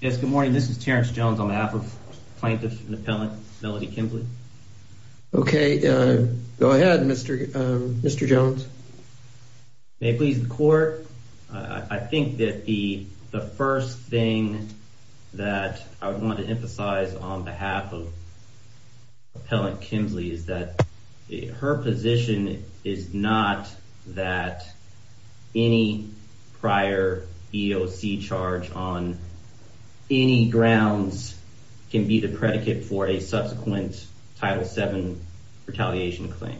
Good morning, this is Terrence Jones on behalf of plaintiff and appellant Melody Kemsley. Okay, go ahead, Mr. Jones. May it please the court, I think that the first thing that I would want to emphasize on behalf of her position is not that any prior EEOC charge on any grounds can be the predicate for a subsequent Title VII retaliation claim.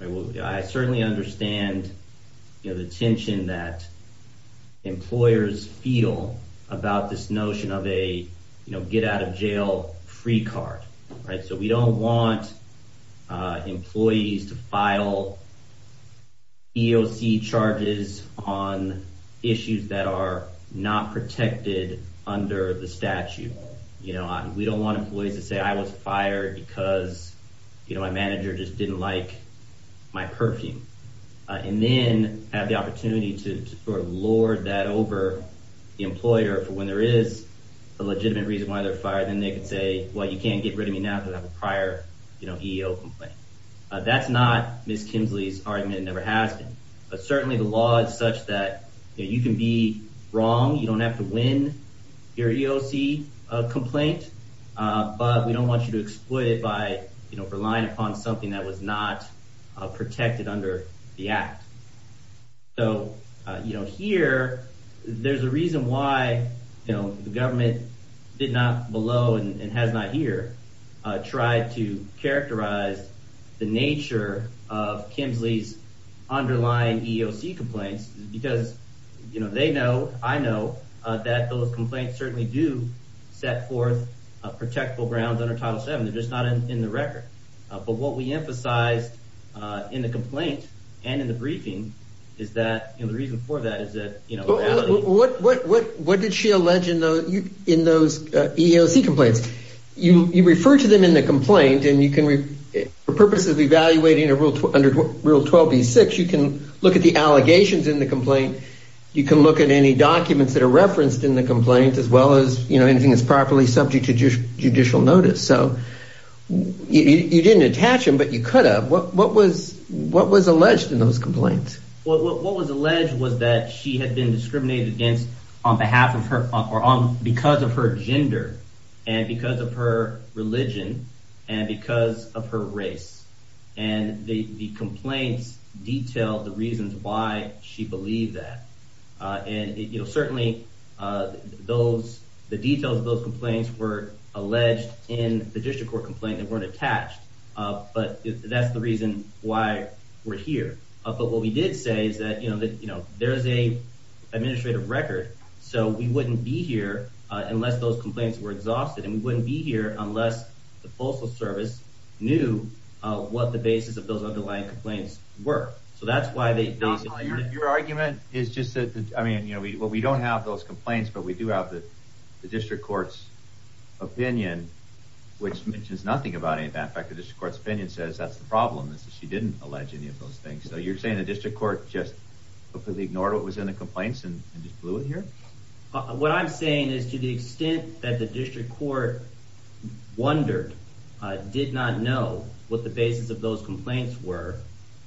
I certainly understand the tension that employers feel about this notion of a get out of jail free card. Right. So we don't want employees to file EEOC charges on issues that are not protected under the statute. You know, we don't want employees to say I was fired because, you know, my manager just didn't like my perfume. And then have the opportunity to sort of lord that over the employer for when there is a legitimate reason why they're fired. And they can say, well, you can't get rid of me now that I have a prior EEOC complaint. That's not Ms. Kemsley's argument. It never has been. But certainly the law is such that you can be wrong. You don't have to win your EEOC complaint. But we don't want you to exploit it by relying upon something that was not protected under the act. So, you know, here there's a reason why, you know, the government did not below and has not here tried to characterize the nature of Kemsley's underlying EEOC complaints. Because, you know, they know, I know that those complaints certainly do set forth protectable grounds under Title 7. They're just not in the record. But what we emphasize in the complaint and in the briefing is that the reason for that is that, you know. What did she allege in those EEOC complaints? You refer to them in the complaint and you can, for purposes of evaluating under Rule 12B-6, you can look at the allegations in the complaint. You can look at any documents that are referenced in the complaint, as well as, you know, anything that's properly subject to judicial notice. So you didn't attach them, but you could have. What was alleged in those complaints? What was alleged was that she had been discriminated against on behalf of her or because of her gender and because of her religion and because of her race. And the complaints detail the reasons why she believed that. And, you know, certainly those the details of those complaints were alleged in the district court complaint. They weren't attached. But that's the reason why we're here. But what we did say is that, you know, there is a administrative record, so we wouldn't be here unless those complaints were exhausted. And we wouldn't be here unless the Postal Service knew what the basis of those underlying complaints were. So that's why the argument is just that. I mean, you know what? We don't have those complaints, but we do have the district court's opinion, which mentions nothing about it. In fact, the district court's opinion says that's the problem is that she didn't allege any of those things. So you're saying the district court just completely ignored what was in the complaints and just blew it here? What I'm saying is to the extent that the district court wondered, did not know what the basis of those complaints were,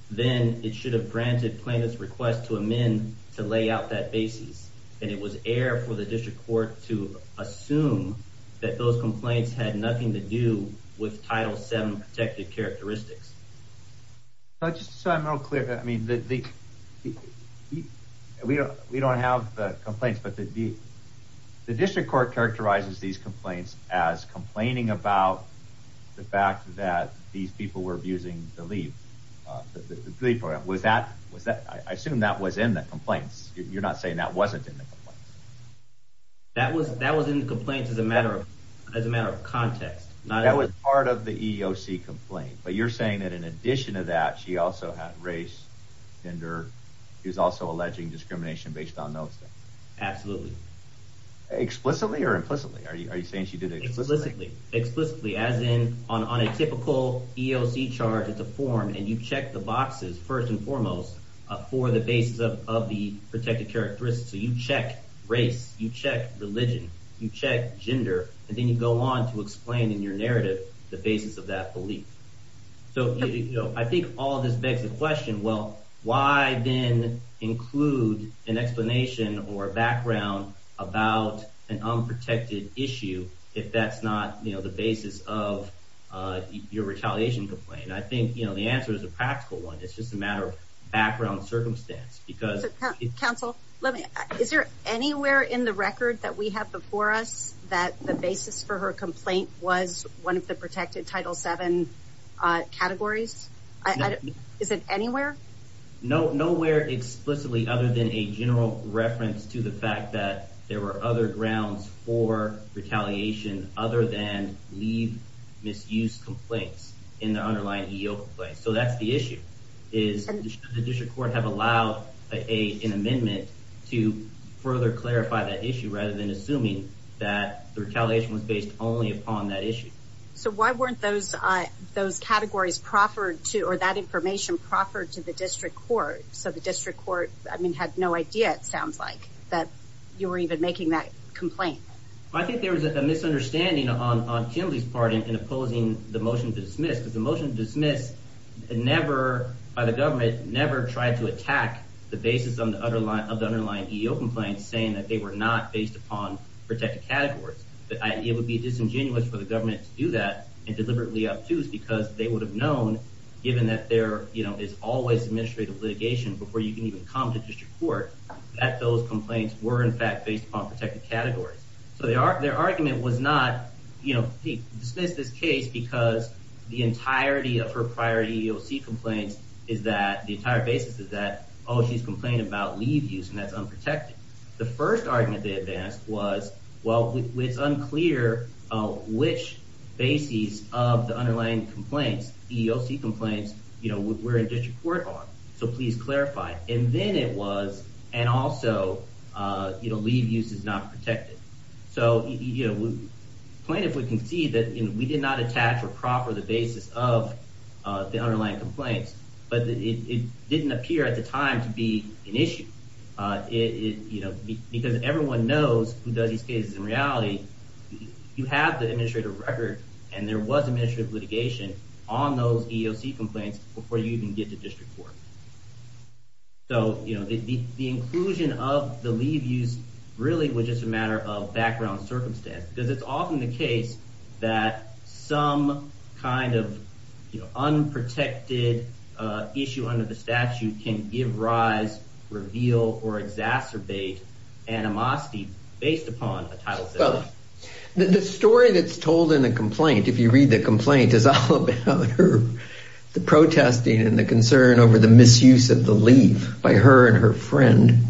then it should have granted plaintiff's request to amend to lay out that basis. And it was air for the district court to assume that those complaints had nothing to do with title seven protected characteristics. So I'm real clear. I mean, we don't have the complaints, but the district court characterizes these complaints as complaining about the fact that these people were abusing the leave. I assume that was in the complaints. You're not saying that wasn't in the complaints? That was in the complaints as a matter of context. That was part of the EEOC complaint, but you're saying that in addition to that, she also had race, gender. She was also alleging discrimination based on those things. Absolutely. Explicitly or implicitly? Are you saying she did it explicitly? Explicitly, as in on a typical EEOC charge, it's a form and you check the boxes first and foremost for the basis of the protected characteristics. So you check race, you check religion, you check gender, and then you go on to explain in your narrative the basis of that belief. I think all of this begs the question, well, why then include an explanation or a background about an unprotected issue if that's not the basis of your retaliation complaint? I think the answer is a practical one. It's just a matter of background circumstance. Counsel, is there anywhere in the record that we have before us that the basis for her complaint was one of the protected Title VII categories? Is it anywhere? Nowhere explicitly other than a general reference to the fact that there were other grounds for retaliation other than leave misuse complaints in the underlying EEOC complaint. So that's the issue, is the district court have allowed an amendment to further clarify that issue rather than assuming that the retaliation was based only upon that issue. So why weren't those categories proffered to, or that information proffered to the district court? So the district court, I mean, had no idea, it sounds like, that you were even making that complaint. I think there was a misunderstanding on Kimberly's part in opposing the motion to dismiss. The motion to dismiss never, by the government, never tried to attack the basis of the underlying EEOC complaint saying that they were not based upon protected categories. It would be disingenuous for the government to do that and deliberately obtuse because they would have known, given that there is always administrative litigation before you can even come to district court, that those complaints were, in fact, based upon protected categories. So their argument was not, you know, hey, dismiss this case because the entirety of her prior EEOC complaints is that, the entire basis is that, oh, she's complaining about leave use and that's unprotected. The first argument they advanced was, well, it's unclear which bases of the underlying complaints, EEOC complaints, you know, were in district court on. So please clarify. And then it was, and also, you know, leave use is not protected. So, you know, plaintiff would concede that we did not attach or proffer the basis of the underlying complaints, but it didn't appear at the time to be an issue. It, you know, because everyone knows who does these cases in reality, you have the administrative record and there was administrative litigation on those EEOC complaints before you even get to district court. So, you know, the inclusion of the leave use really was just a matter of background circumstance, because it's often the case that some kind of unprotected issue under the statute can give rise, reveal, or exacerbate animosity based upon a title system. The story that's told in a complaint, if you read the complaint, is all about the protesting and the concern over the misuse of the leave by her and her friend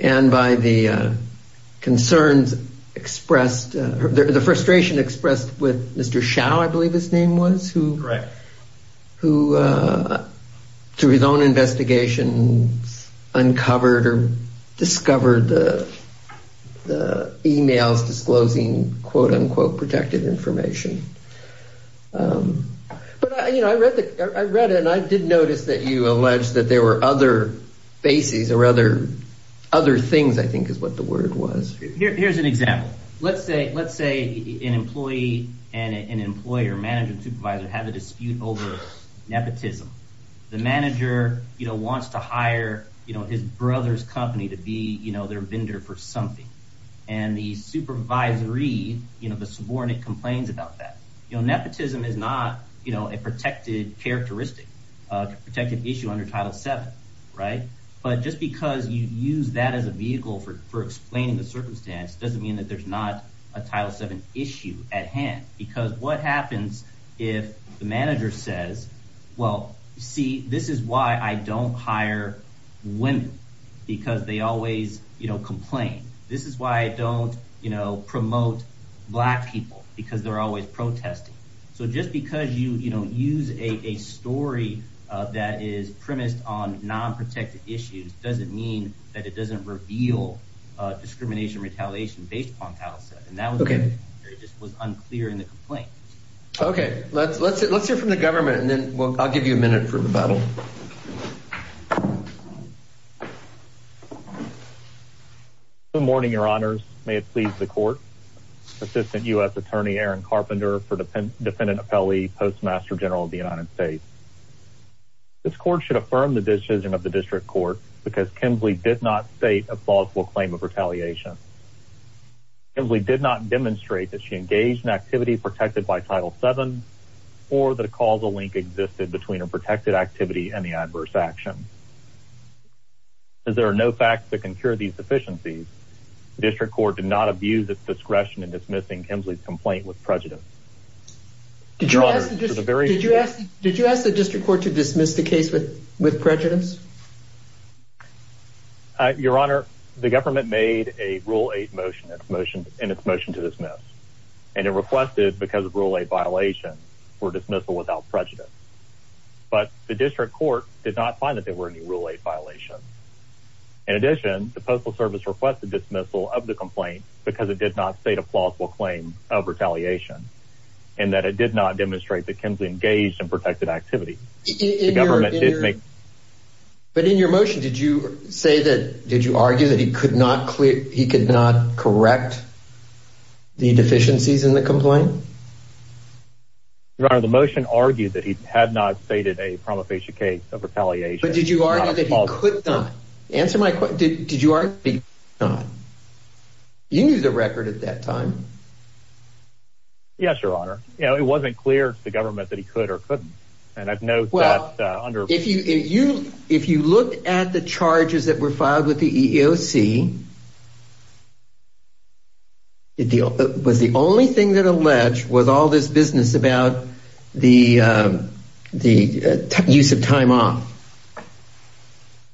and by the concerns expressed, the frustration expressed with Mr. Chow, I believe his name was, who through his own investigation uncovered or discovered the emails disclosing, quote, unquote, protected information. But, you know, I read it and I did notice that you alleged that there were other bases or other things, I think, is what the word was. Here's an example. Let's say, let's say an employee and an employer, manager, supervisor, have a dispute over nepotism. The manager, you know, wants to hire, you know, his brother's company to be, you know, their vendor for something. And the supervisory, you know, the subordinate complains about that. You know, nepotism is not, you know, a protected characteristic, protected issue under Title VII. Right. But just because you use that as a vehicle for explaining the circumstance doesn't mean that there's not a Title VII issue at hand. Because what happens if the manager says, well, see, this is why I don't hire women, because they always, you know, complain. This is why I don't, you know, promote black people, because they're always protesting. So just because you, you know, use a story that is premised on non-protected issues doesn't mean that it doesn't reveal discrimination, retaliation based upon Title VII. And that was unclear in the complaint. Okay. Let's hear from the government and then I'll give you a minute for rebuttal. Good morning, Your Honors. May it please the court. Assistant U.S. Attorney Aaron Carpenter for Defendant Apelli, Postmaster General of the United States. This court should affirm the decision of the district court because Kemsley did not state a falseful claim of retaliation. Kemsley did not demonstrate that she engaged in activity protected by Title VII or that a causal link existed between a protected activity and the adverse action. As there are no facts that can cure these deficiencies, the district court did not abuse its discretion in dismissing Kemsley's complaint with prejudice. Did you ask the district court to dismiss the case with prejudice? Your Honor, the government made a Rule 8 motion and its motion to dismiss. And it requested, because of Rule 8 violation, for dismissal without prejudice. But the district court did not find that there were any Rule 8 violations. In addition, the Postal Service requested dismissal of the complaint because it did not state a falseful claim of retaliation and that it did not demonstrate that Kemsley engaged in protected activity. But in your motion, did you argue that he could not correct the deficiencies in the complaint? Your Honor, the motion argued that he had not stated a promulgation case of retaliation. But did you argue that he could not? Answer my question. Did you argue that he could not? You knew the record at that time. Yes, Your Honor. It wasn't clear to the government that he could or couldn't. If you look at the charges that were filed with the EEOC, was the only thing that alleged was all this business about the use of time off?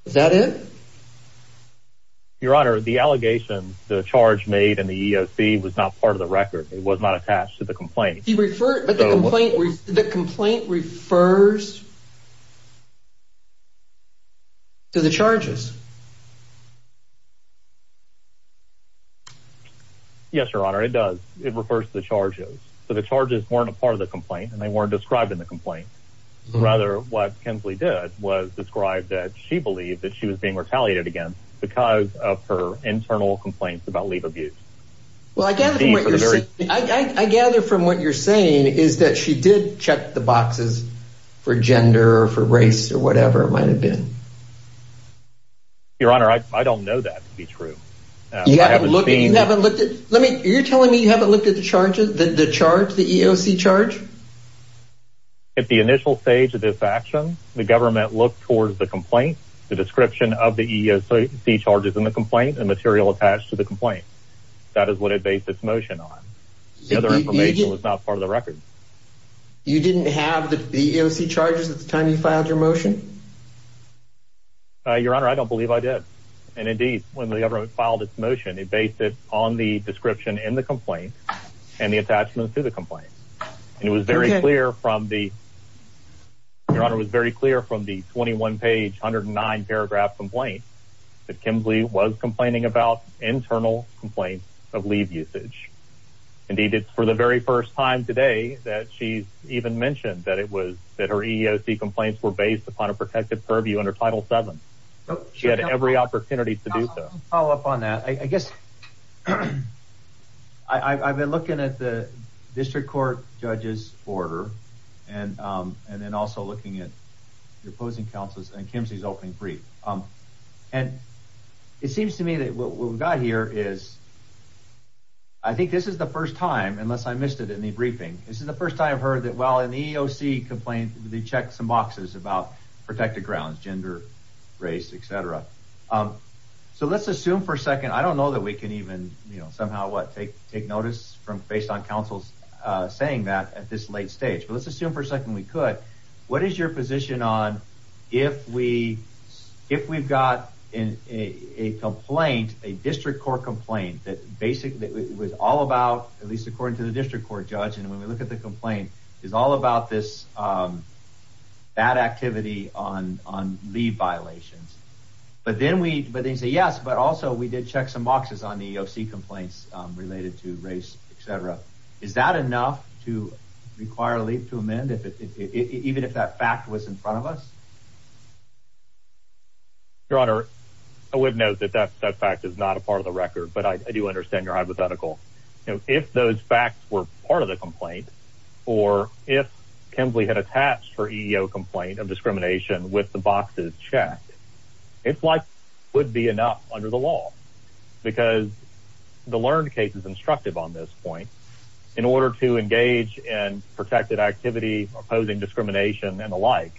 Was that it? Your Honor, the allegations, the charge made in the EEOC was not part of the record. It was not attached to the complaint. But the complaint refers to the charges. Yes, Your Honor, it does. It refers to the charges. So the charges weren't a part of the complaint and they weren't described in the complaint. Rather, what Kemsley did was describe that she believed that she was being retaliated against because of her internal complaints about leave abuse. Well, I gather from what you're saying is that she did check the boxes for gender or for race or whatever it might have been. Your Honor, I don't know that to be true. You haven't looked at it? You're telling me you haven't looked at the charges, the charge, the EEOC charge? At the initial stage of this action, the government looked towards the complaint, the description of the EEOC charges in the complaint, and material attached to the complaint. That is what it based its motion on. The other information was not part of the record. You didn't have the EEOC charges at the time you filed your motion? Your Honor, I don't believe I did. And indeed, when the government filed its motion, it based it on the description in the complaint and the attachment to the complaint. Your Honor, it was very clear from the 21-page, 109-paragraph complaint that Kemsley was complaining about internal complaints of leave usage. Indeed, it's for the very first time today that she even mentioned that her EEOC complaints were based upon a protective purview under Title VII. She had every opportunity to do so. I'll follow up on that. I guess I've been looking at the district court judge's order and then also looking at the opposing counsel's and Kemsley's opening brief. And it seems to me that what we've got here is I think this is the first time, unless I missed it in the briefing, this is the first time I've heard that, well, an EEOC complaint, they checked some boxes about protected grounds, gender, race, et cetera. So let's assume for a second. I don't know that we can even somehow, what, take notice based on counsel's saying that at this late stage. But let's assume for a second we could. What is your position on if we've got a complaint, a district court complaint that basically was all about, at least according to the district court judge, and when we look at the complaint, is all about this bad activity on leave violations. But then they say, yes, but also we did check some boxes on the EEOC complaints related to race, et cetera. Is that enough to require leave to amend, even if that fact was in front of us? Your Honor, I would note that that fact is not a part of the record, but I do understand your hypothetical. If those facts were part of the complaint, or if Kemsley had attached her EEOC complaint of discrimination with the boxes checked, it's likely it would be enough under the law because the learned case is instructive on this point. In order to engage in protected activity, opposing discrimination, and the like,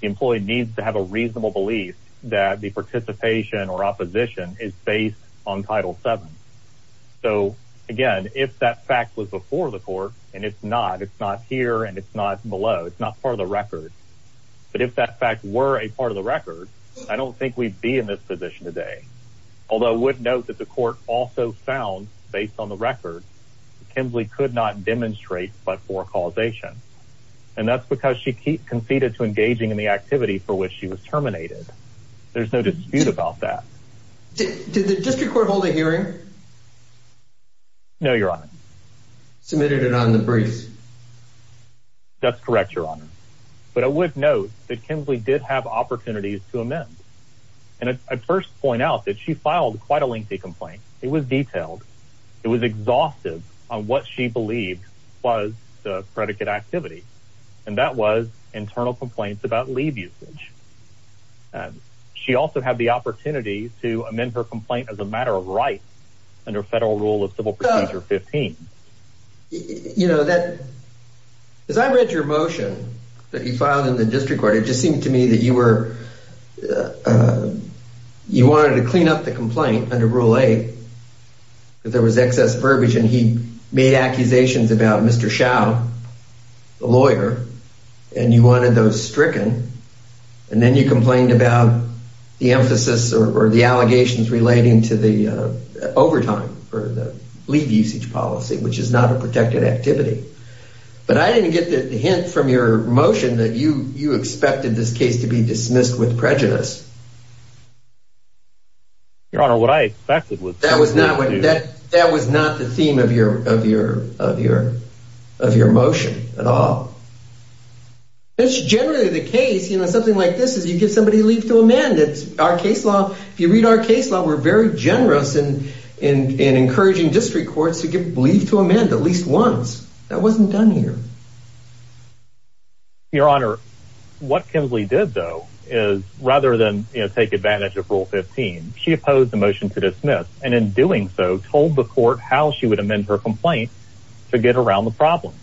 the employee needs to have a reasonable belief that the participation or opposition is based on Title VII. So, again, if that fact was before the court, and it's not, it's not here and it's not below, it's not part of the record. But if that fact were a part of the record, I don't think we'd be in this position today. Although I would note that the court also found, based on the record, that Kemsley could not demonstrate but for causation. And that's because she conceded to engaging in the activity for which she was terminated. There's no dispute about that. Did the district court hold a hearing? No, Your Honor. Submitted it on the briefs. That's correct, Your Honor. But I would note that Kemsley did have opportunities to amend. And I'd first point out that she filed quite a lengthy complaint. It was detailed. It was exhaustive on what she believed was the predicate activity. And that was internal complaints about leave usage. She also had the opportunity to amend her complaint as a matter of right under federal rule of civil procedure 15. You know, as I read your motion that you filed in the district court, it just seemed to me that you were, you wanted to clean up the complaint under Rule 8. There was excess verbiage, and he made accusations about Mr. Schau, the lawyer, and you wanted those stricken. And then you complained about the emphasis or the allegations relating to the overtime or the leave usage policy, which is not a protected activity. But I didn't get the hint from your motion that you expected this case to be dismissed with prejudice. Your Honor, what I expected was— That was not the theme of your motion at all. It's generally the case, you know, something like this, is you give somebody leave to amend it. Our case law, if you read our case law, we're very generous in encouraging district courts to give leave to amend at least once. That wasn't done here. Your Honor, what Kinsley did, though, is rather than take advantage of Rule 15, she opposed the motion to dismiss, and in doing so, told the court how she would amend her complaint to get around the problem.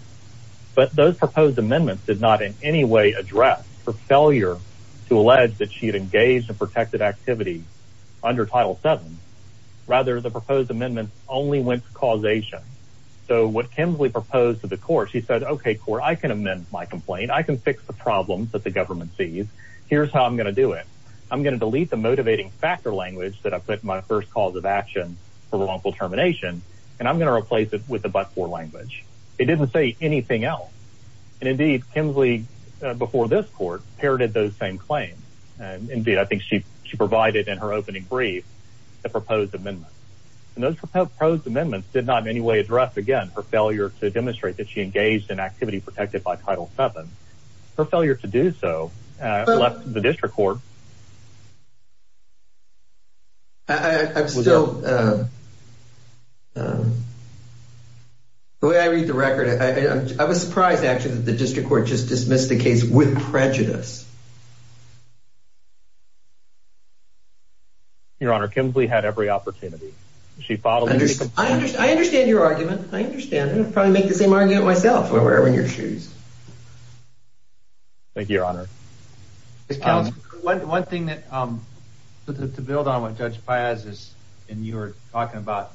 But those proposed amendments did not in any way address her failure to allege that she had engaged in protected activity under Title 7. Rather, the proposed amendments only went to causation. So what Kinsley proposed to the court, she said, OK, court, I can amend my complaint. I can fix the problems that the government sees. Here's how I'm going to do it. I'm going to delete the motivating factor language that I put in my first cause of action for wrongful termination, and I'm going to replace it with the but-for language. It didn't say anything else. And indeed, Kinsley, before this court, parroted those same claims. Indeed, I think she provided in her opening brief the proposed amendments. And those proposed amendments did not in any way address, again, her failure to demonstrate that she engaged in activity protected by Title 7. Her failure to do so left the district court. I'm still... The way I read the record, I was surprised, actually, that the district court just dismissed the case with prejudice. Your Honor, Kinsley had every opportunity. She followed... I understand your argument. I understand. I'd probably make the same argument myself. Well, wear her in your shoes. Thank you, Your Honor. Mr. Counselor, one thing to build on what Judge Paez is... And you were talking about...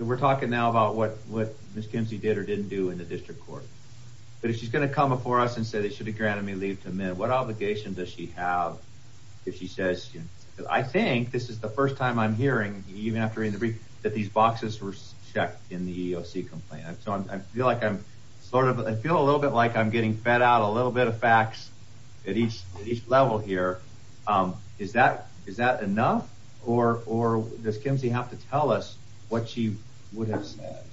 We're talking now about what Ms. Kinsley did or didn't do in the district court. But if she's going to come before us and say they should have granted me leave to amend, what are we going to do? What obligation does she have if she says... I think this is the first time I'm hearing, even after reading the brief, that these boxes were checked in the EEOC complaint. So I feel like I'm sort of... I feel a little bit like I'm getting fed out a little bit of facts at each level here. Is that enough? Or does Kinsley have to tell us what she would have said?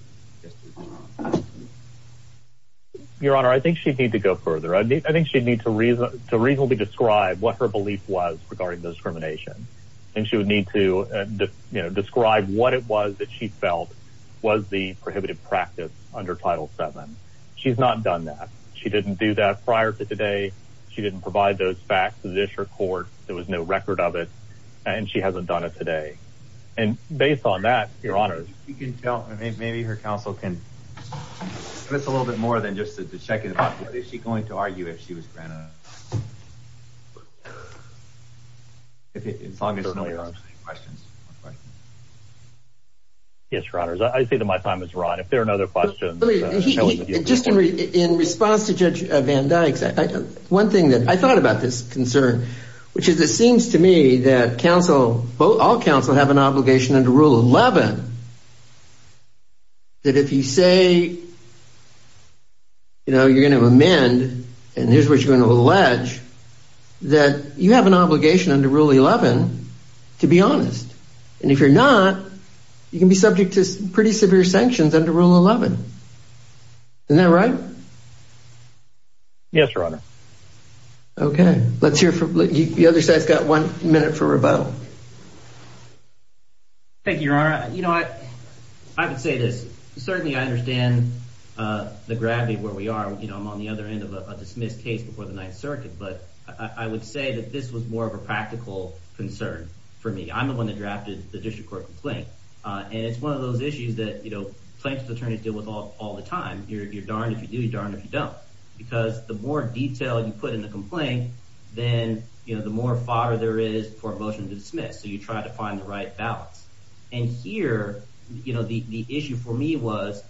Your Honor, I think she'd need to go further. I think she'd need to reasonably describe what her belief was regarding the discrimination. I think she would need to describe what it was that she felt was the prohibited practice under Title VII. She's not done that. She didn't do that prior to today. She didn't provide those facts to the district court. There was no record of it. And she hasn't done it today. And based on that, Your Honor... You can tell... Maybe her counsel can... It's a little bit more than just the check in the box. Is she going to argue if she was granted a... As long as no one asks any questions. Yes, Your Honor. I think that my time is right. If there are no other questions... Just in response to Judge Van Dyke's... One thing that... I thought about this concern. Which is, it seems to me that counsel... All counsel have an obligation under Rule XI. That if you say... You know, you're going to amend... And here's what you're going to allege. That you have an obligation under Rule XI to be honest. And if you're not, you can be subject to pretty severe sanctions under Rule XI. Isn't that right? Yes, Your Honor. Okay. Let's hear from... The other side's got one minute for rebuttal. Thank you, Your Honor. You know what? I would say this. Certainly, I understand the gravity of where we are. I'm on the other end of a dismissed case before the Ninth Circuit. But I would say that this was more of a practical concern for me. I'm the one that drafted the District Court complaint. And it's one of those issues that plaintiff's attorneys deal with all the time. You're darned if you do. You're darned if you don't. Because the more detail you put in the complaint, then the more fodder there is for a motion to dismiss. So you try to find the right balance. And here, the issue for me was,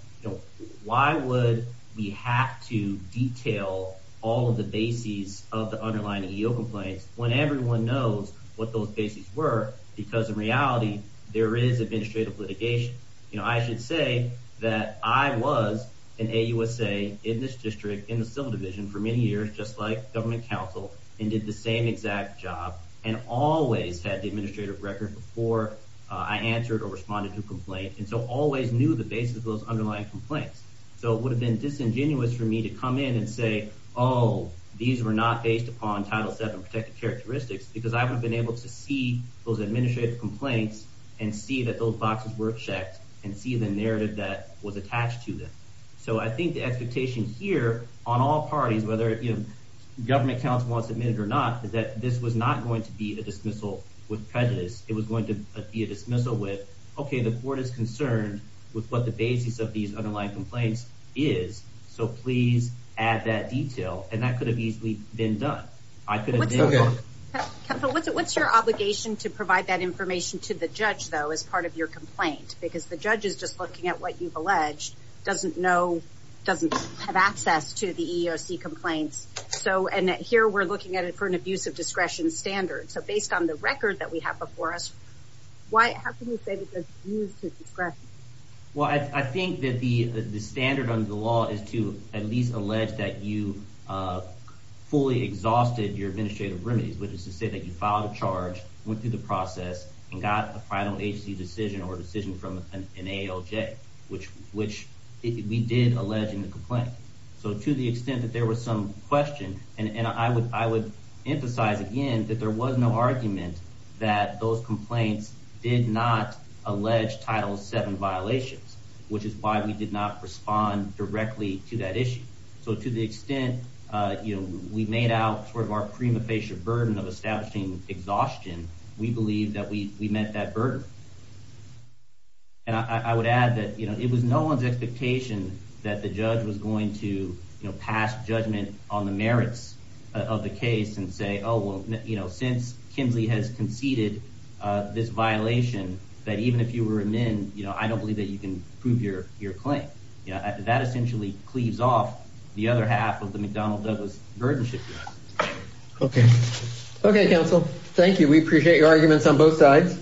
why would we have to detail all of the bases of the underlying EO complaints when everyone knows what those bases were? Because in reality, there is administrative litigation. I should say that I was an AUSA in this district, in the Civil Division, for many years, just like government counsel, and did the same exact job and always had the administrative record before I answered or responded to a complaint and so always knew the bases of those underlying complaints. So it would have been disingenuous for me to come in and say, oh, these were not based upon Title VII protective characteristics because I would have been able to see those administrative complaints and see that those boxes were checked and see the narrative that was attached to them. So I think the expectation here on all parties, whether government counsel wants to admit it or not, is that this was not going to be a dismissal with prejudice. It was going to be a dismissal with, okay, the court is concerned with what the basis of these underlying complaints is, so please add that detail. And that could have easily been done. What's your obligation to provide that information to the judge, though, as part of your complaint? Because the judge is just looking at what you've alleged, doesn't know, doesn't have access to the EEOC complaints. And here we're looking at it for an abuse of discretion standard. So based on the record that we have before us, how can you say that there's abuse of discretion? Well, I think that the standard under the law is to at least allege that you fully exhausted your administrative remedies, which is to say that you filed a charge, went through the process, and got a final agency decision or decision from an ALJ, which we did allege in the complaint. So to the extent that there was some question, and I would emphasize again that there was no argument that those complaints did not allege Title VII violations, which is why we did not respond directly to that issue. So to the extent we made out sort of our prima facie burden of establishing exhaustion, we believe that we met that burden. And I would add that it was no one's expectation that the judge was going to pass judgment on the merits of the case and say, oh, well, since Kinsley has conceded this violation, that even if you were amended, I don't believe that you can prove your claim. That essentially cleaves off the other half of the McDonnell-Douglas burdenship. Okay. Okay, counsel. Thank you. We appreciate your arguments on both sides.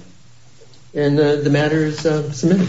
And the matter is submitted.